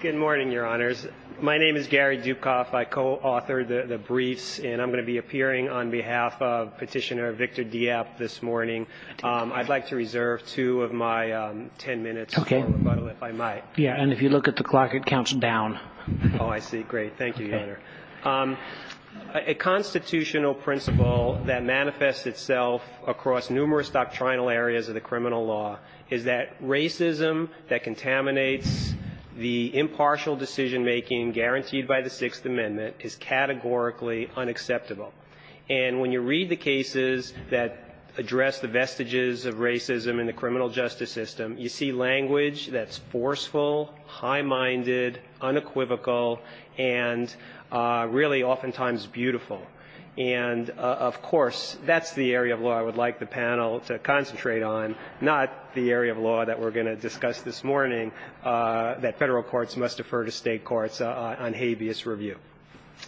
Good morning, Your Honors. My name is Gary Dukoff. I co-authored the briefs, and I'm going to be appearing on behalf of Petitioner Victor Diep this morning. I'd like to reserve two of my 10 minutes for rebuttal, if I might. Yeah, and if you look at the clock, it counts down. Oh, I see. Great. Thank you, Your Honor. A constitutional principle that manifests itself across numerous doctrinal areas of the criminal law is that racism that contaminates the impartial decision-making guaranteed by the Sixth Amendment is categorically unacceptable. And when you read the cases that address the vestiges of racism in the criminal justice system, you see language that's forceful, high-minded, unequivocal, and really oftentimes beautiful. And of course, that's the area of law I would like the panel to concentrate on, not the area of law that we're going to discuss this morning, that federal courts must defer to state courts on habeas review.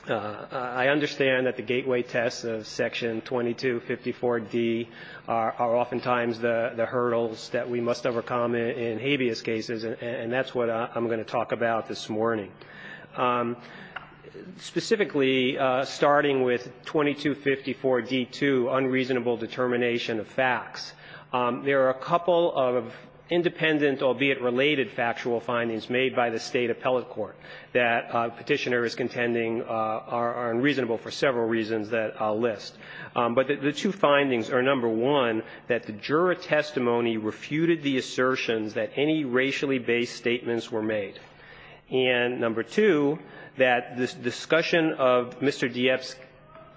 I understand that the gateway tests of Section 2254D are oftentimes the hurdles that we must overcome in habeas cases, and that's what I'm going to talk about this morning. Specifically, starting with 2254D2, unreasonable determination of facts, there are a couple of independent, albeit related, factual findings made by the state appellate court that Petitioner is contending are unreasonable for several reasons that I'll list. But the two findings are, number one, that the juror testimony refuted the assertions that any racially-based statements were made. And number two, that this discussion of Mr. Dieff's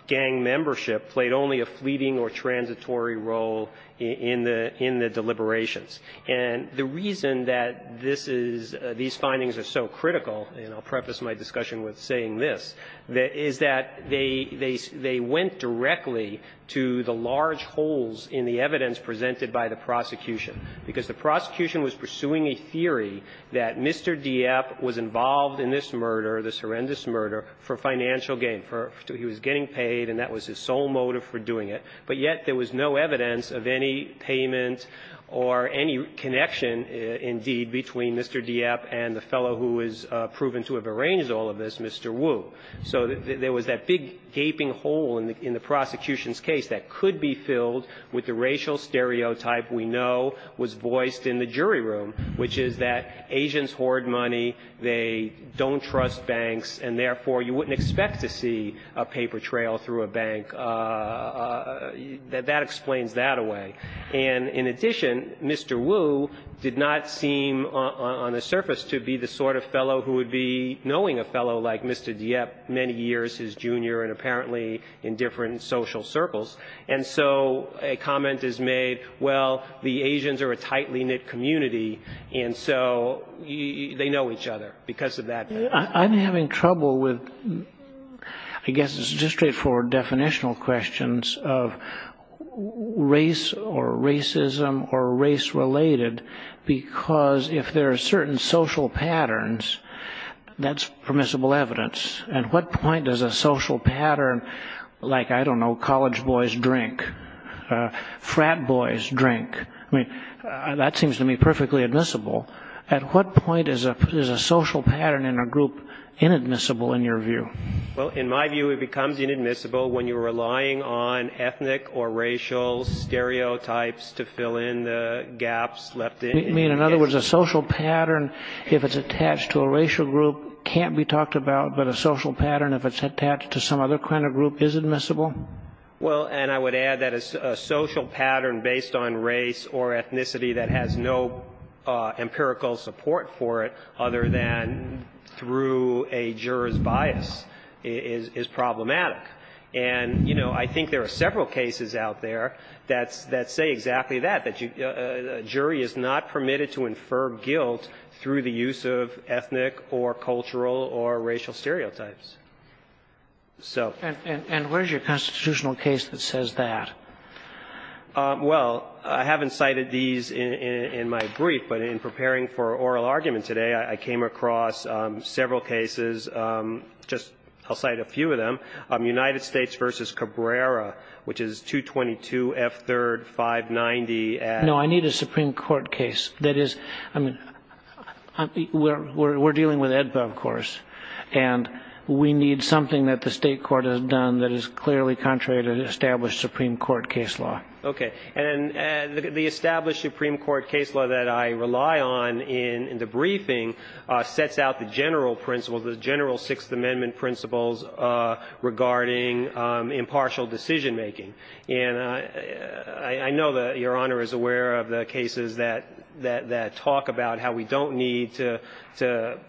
gang membership played only a fleeting or transitory role in the deliberations. And the reason that this is, these findings are so critical, and I'll preface my discussion with saying this, is that they went directly to the large holes in the evidence presented by the prosecution, because the prosecution was pursuing a theory that Mr. Dieff was involved in this murder, this horrendous murder, for financial gain. He was getting paid, and that was his sole motive for doing it. But yet there was no evidence of any payment or any connection, indeed, between Mr. Dieff and the fellow who was proven to have arranged all of this, Mr. Wu. So there was that big, gaping hole in the prosecution's case that could be filled with the racial stereotype we know was voiced in the jury room, which is that Asians hoard money, they don't trust banks, and therefore you wouldn't expect to see a paper trail through a bank. That explains that away. And in addition, Mr. Wu did not seem, on the surface, to be the sort of fellow who would be knowing a fellow like Mr. Dieff many years, his junior, and apparently in different social circles. And so a comment is made, well, the Asians are a tightly knit community, and so they know each other because of that. I'm having trouble with, I guess it's just straightforward definitional questions of race or racism or race-related, because if there are certain social patterns, that's permissible evidence. At what point does a social pattern, like, I don't know, college boys drink, frat boys drink, that seems to me perfectly admissible. At what point is a social pattern in a group inadmissible, in your view? Well, in my view, it becomes inadmissible when you're relying on ethnic or racial stereotypes to fill in the gaps left in. You mean, in other words, a social pattern, if it's attached to a racial group, can't be talked about, but a social pattern, if it's attached to some other kind of group, is admissible? Well, and I would add that a social pattern based on race or ethnicity that has no empirical support for it other than through a juror's bias is problematic. And I think there are several cases out there that say exactly that, that a jury is not permitted to infer guilt through the use of ethnic or cultural or racial stereotypes. And where's your constitutional case that says that? Well, I haven't cited these in my brief, but in preparing for oral argument today, I came across several cases. Just I'll cite a few of them. United States versus Cabrera, which is 222 F3rd 590. No, I need a Supreme Court case. That is, I mean, we're dealing with AEDPA, of course. And we need something that the state court has done that is clearly contrary to the established Supreme Court case law. OK. And the established Supreme Court case law that I rely on in the briefing sets out the general principles, the general Sixth Amendment principles regarding impartial decision making. And I know that Your Honor is aware of the cases that talk about how we don't need to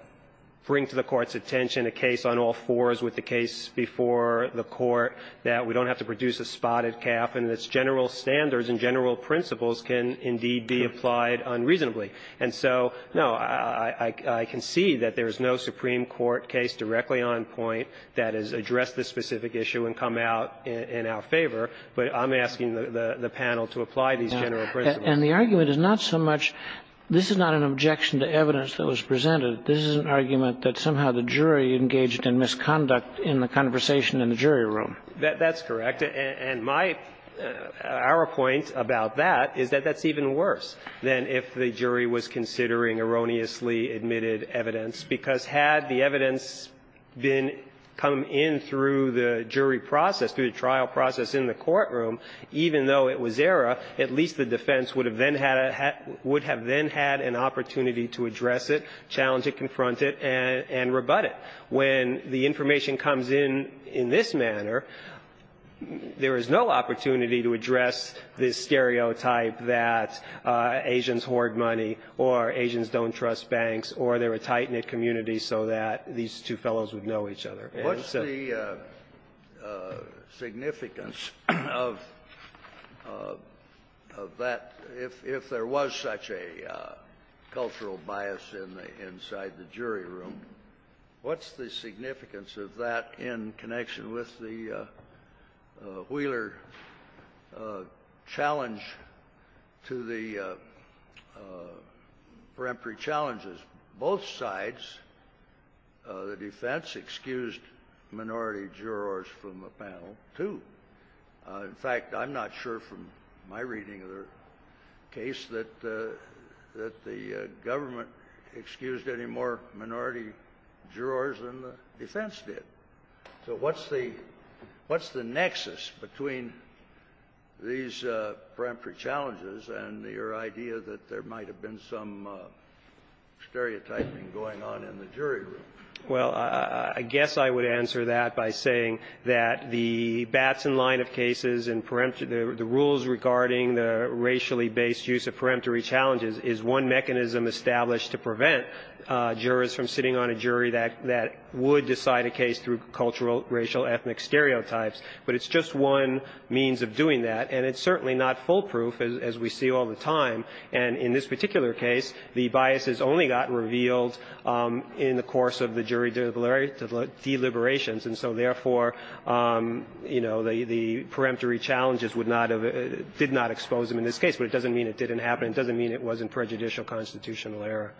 bring to the court's attention a case on all fours with the case before the court, that we don't have to produce a spotted calf, and its general standards and general principles can indeed be applied unreasonably. And so, no, I can see that there is no Supreme Court case directly on point that has addressed this specific issue and come out in our favor. But I'm asking the panel to apply these general principles. And the argument is not so much this is not an objection to evidence that was presented. This is an argument that somehow the jury engaged in misconduct in the conversation in the jury room. That's correct. And my arrow point about that is that that's even worse than if the jury was considering erroneously admitted evidence, because had the evidence been come in through the jury process, through the trial process in the courtroom, even though it was error, at least the defense would have then had an opportunity to address it, challenge it, confront it, and rebut it. When the information comes in in this manner, there is no opportunity to address this stereotype that Asians hoard money or Asians don't trust banks or they're a tight-knit community so that these two fellows would know each other. And so the the significance of that, if there was such a cultural bias in the incitement inside the jury room, what's the significance of that in connection with the Wheeler challenge to the peremptory challenges? Both sides of the defense excused minority jurors from a panel, too. In fact, I'm not sure from my reading of the case that the government excused any more minority jurors than the defense did. So what's the nexus between these peremptory challenges and your idea that there might have been some stereotyping going on in the jury room? Well, I guess I would answer that by saying that the Batson line of cases and the rules regarding the racially based use of peremptory challenges is one mechanism established to prevent jurors from sitting on a jury that would decide a case through cultural, racial, ethnic stereotypes, but it's just one means of doing that, and it's certainly not foolproof, as we see all the time, and in this particular case, the biases only got revealed in the course of the jury deliberations, and so therefore, you know, the peremptory challenges did not expose them in this case, but it doesn't mean it didn't happen. It doesn't mean it wasn't prejudicial constitutional error.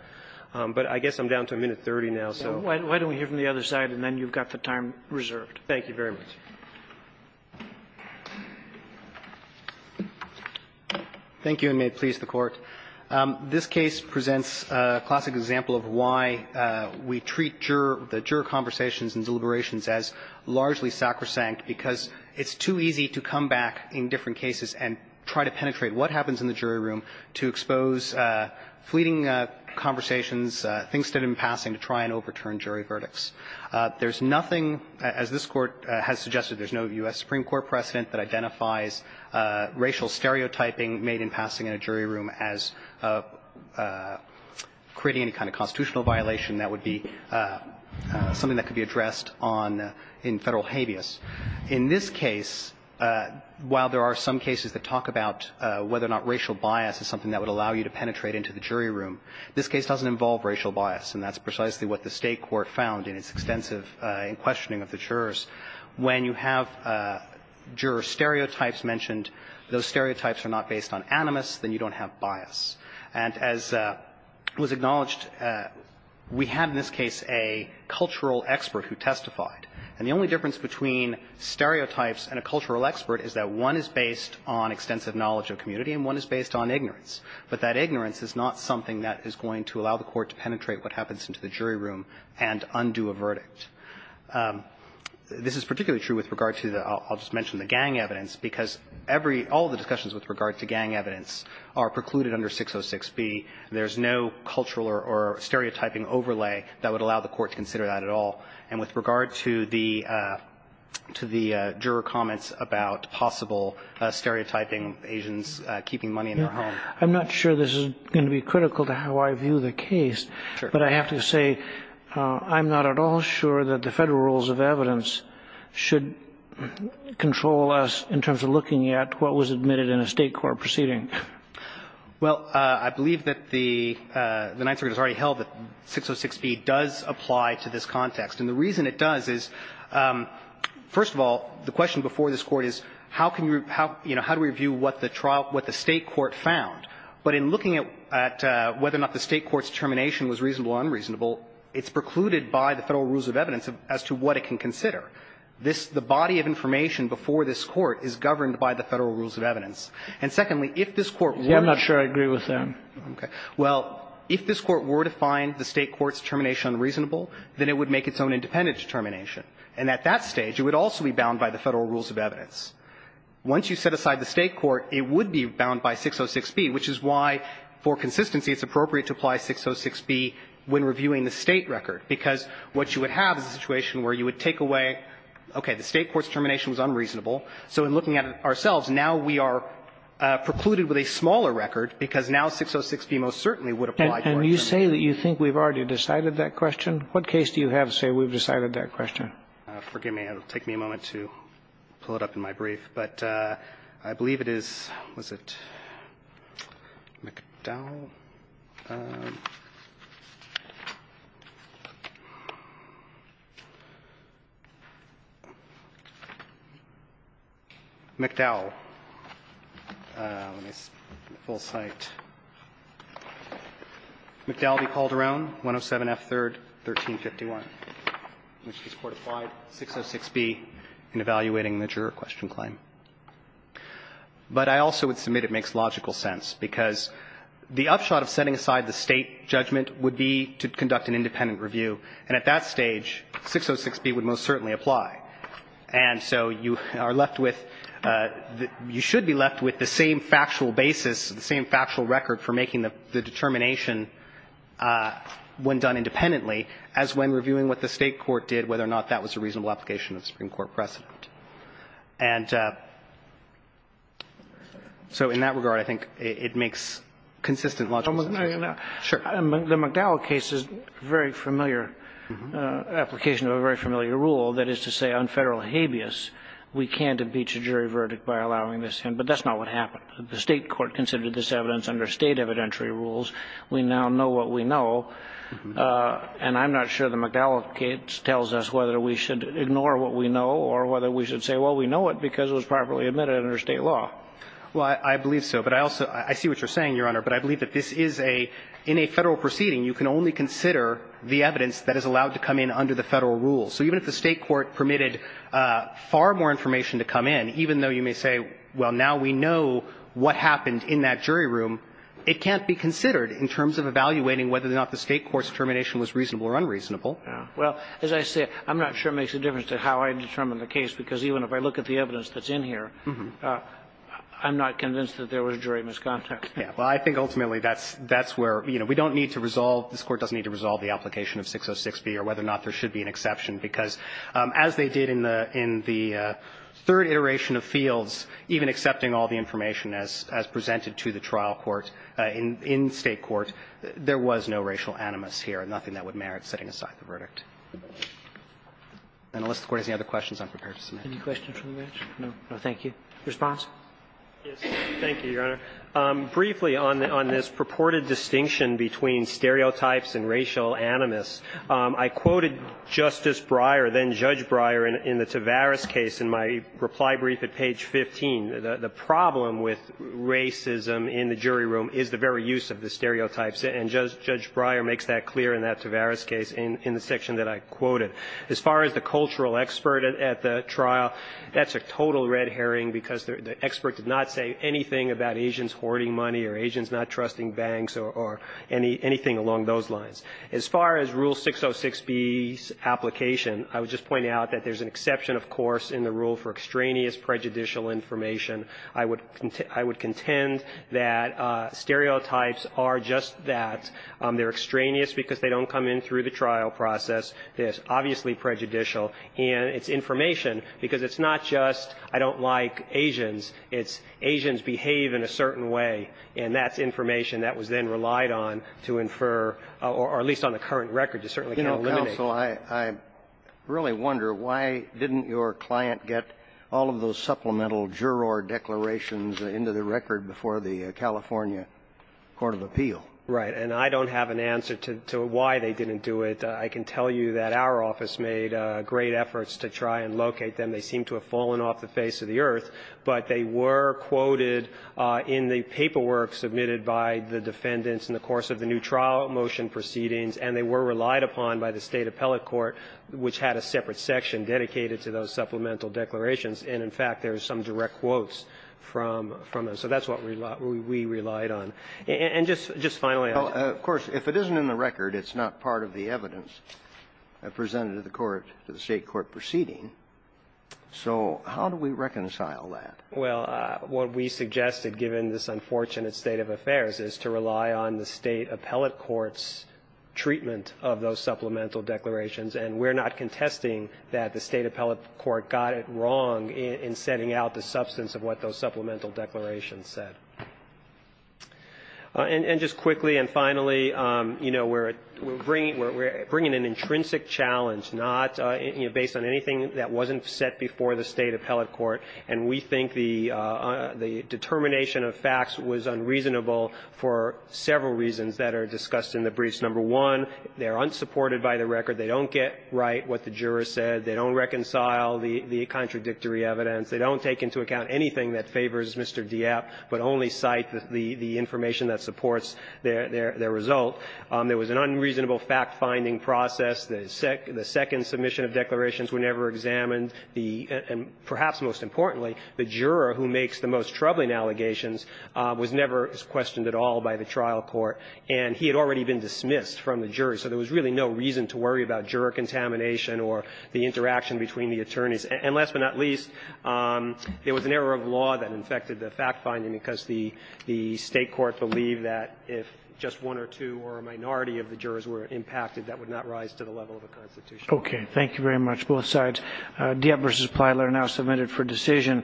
But I guess I'm down to a minute 30 now, so. Why don't we hear from the other side, and then you've got the time reserved. Thank you very much. Thank you, and may it please the Court. This case presents a classic example of why we treat juror – the juror conversations and deliberations as largely sacrosanct, because it's too easy to come back in different cases and try to penetrate what happens in the jury room to expose fleeting conversations, things that are in passing, to try and overturn jury verdicts. There's nothing, as this Court has suggested, there's no U.S. Supreme Court precedent that identifies racial stereotyping made in passing in a jury room as creating any kind of constitutional violation that would be something that could be addressed on – in Federal habeas. In this case, while there are some cases that talk about whether or not racial bias is something that would allow you to penetrate into the jury room, this case doesn't involve racial bias, and that's precisely what the State court found in its extensive – in questioning of the jurors. When you have juror stereotypes mentioned, those stereotypes are not based on animus, then you don't have bias. And as was acknowledged, we have in this case a cultural expert who testified. And the only difference between stereotypes and a cultural expert is that one is based on extensive knowledge of community and one is based on ignorance, but that ignorance is not something that is going to allow the Court to penetrate what happens into the jury room and undo a verdict. This is particularly true with regard to the – I'll just mention the gang evidence, because every – all of the discussions with regard to gang evidence are precluded under 606b. And with regard to the – to the juror comments about possible stereotyping Asians keeping money in their home. I'm not sure this is going to be critical to how I view the case. Sure. But I have to say I'm not at all sure that the Federal rules of evidence should control us in terms of looking at what was admitted in a State court proceeding. Well, I believe that the – the Ninth Circuit has already held that 606b does apply to this context. And the reason it does is, first of all, the question before this Court is how can you – how – you know, how do we view what the trial – what the State court found? But in looking at whether or not the State court's determination was reasonable or unreasonable, it's precluded by the Federal rules of evidence as to what it can consider. This – the body of information before this Court is governed by the Federal rules of evidence. And secondly, if this Court were to – Yeah, I'm not sure I agree with that. Okay. Well, if this Court were to find the State court's determination unreasonable, then it would make its own independent determination. And at that stage, it would also be bound by the Federal rules of evidence. Once you set aside the State court, it would be bound by 606b, which is why for consistency it's appropriate to apply 606b when reviewing the State record, because what you would have is a situation where you would take away, okay, the State court's determination was unreasonable. So in looking at it ourselves, now we are precluded with a smaller record because now 606b most certainly would apply to our determination. And you say that you think we've already decided that question? What case do you have to say we've decided that question? Forgive me. It'll take me a moment to pull it up in my brief. But I believe it is – was it McDowell? McDowell. Let me see. Full site. McDowell v. Calderon, 107F3rd, 1351, which is court-applied 606b in evaluating the juror question claim. But I also would submit it makes logical sense, because the upshot of setting aside the State judgment would be to conduct an independent review. And at that stage, 606b would most certainly apply. And so you are left with – you should be left with the same factual basis, the same factual record for making the determination when done independently as when reviewing what the State court did, whether or not that was a reasonable application of Supreme Court precedent. And so in that regard, I think it makes consistent logical sense. The McDowell case is a very familiar application of a very familiar rule, that is to say on Federal habeas, we can't impeach a jury verdict by allowing this in. But that's not what happened. The State court considered this evidence under State evidentiary rules. We now know what we know. And I'm not sure the McDowell case tells us whether we should ignore what we know or whether we should say, well, we know it because it was properly admitted under State law. Well, I believe so. But I also – I see what you're saying, Your Honor. But I believe that this is a – in a Federal proceeding, you can only consider the evidence that is allowed to come in under the Federal rules. So even if the State court permitted far more information to come in, even though you may say, well, now we know what happened in that jury room, it can't be considered in terms of evaluating whether or not the State court's determination was reasonable or unreasonable. Well, as I say, I'm not sure it makes a difference to how I determine the case, because even if I look at the evidence that's in here, I'm not convinced that there was jury misconduct. Yeah. Well, I think ultimately that's – that's where, you know, we don't need to resolve – this Court doesn't need to resolve the application of 606B or whether or not there should be an exception. Because as they did in the – in the third iteration of Fields, even accepting all the information as presented to the trial court in State court, there was no racial animus here, nothing that would merit setting aside the verdict. And unless the Court has any other questions, I'm prepared to submit. Any questions from the bench? No. No, thank you. Response? Yes. Thank you, Your Honor. Briefly on this purported distinction between stereotypes and racial animus, I quoted Justice Breyer, then Judge Breyer, in the Tavares case in my reply brief at page 15. The problem with racism in the jury room is the very use of the stereotypes. And Judge Breyer makes that clear in that Tavares case in the section that I quoted. As far as the cultural expert at the trial, that's a total red herring because the expert did not say anything about Asians hoarding money or Asians not trusting banks or anything along those lines. As far as Rule 606B's application, I would just point out that there's an exception, of course, in the rule for extraneous prejudicial information. I would contend that stereotypes are just that. They're extraneous because they don't come in through the trial process. They're obviously prejudicial. And it's information because it's not just I don't like Asians. It's Asians behave in a certain way, and that's information that was then relied on to infer or at least on the current record to certainly eliminate. So I really wonder why didn't your client get all of those supplemental juror declarations into the record before the California court of appeal? Right. And I don't have an answer to why they didn't do it. I can tell you that our office made great efforts to try and locate them. They seem to have fallen off the face of the earth. But they were quoted in the paperwork submitted by the defendants in the course of the new trial motion proceedings, and they were relied upon by the State appellate court, which had a separate section dedicated to those supplemental declarations. And, in fact, there are some direct quotes from them. So that's what we relied on. And just finally, I'll just add to that. Well, of course, if it isn't in the record, it's not part of the evidence presented to the court, to the State court proceeding. So how do we reconcile that? Well, what we suggested, given this unfortunate state of affairs, is to rely on the State appellate court's treatment of those supplemental declarations. And we're not contesting that the State appellate court got it wrong in setting out the substance of what those supplemental declarations said. And just quickly and finally, you know, we're bringing an intrinsic challenge, not based on anything that wasn't set before the State appellate court. And we think the determination of facts was unreasonable for several reasons that are discussed in the briefs. Number one, they're unsupported by the record. They don't get right what the jurors said. They don't reconcile the contradictory evidence. They don't take into account anything that favors Mr. Dieppe, but only cite the information that supports their result. There was an unreasonable fact-finding process. The second submission of declarations were never examined. And perhaps most importantly, the juror who makes the most troubling allegations was never questioned at all by the trial court. And he had already been dismissed from the jury. So there was really no reason to worry about juror contamination or the interaction between the attorneys. And last but not least, there was an error of law that infected the fact-finding because the State court believed that if just one or two or a minority of the jurors were impacted, that would not rise to the level of the Constitution. Okay. Thank you very much, both sides. Dieppe v. Plyler now submitted for decision.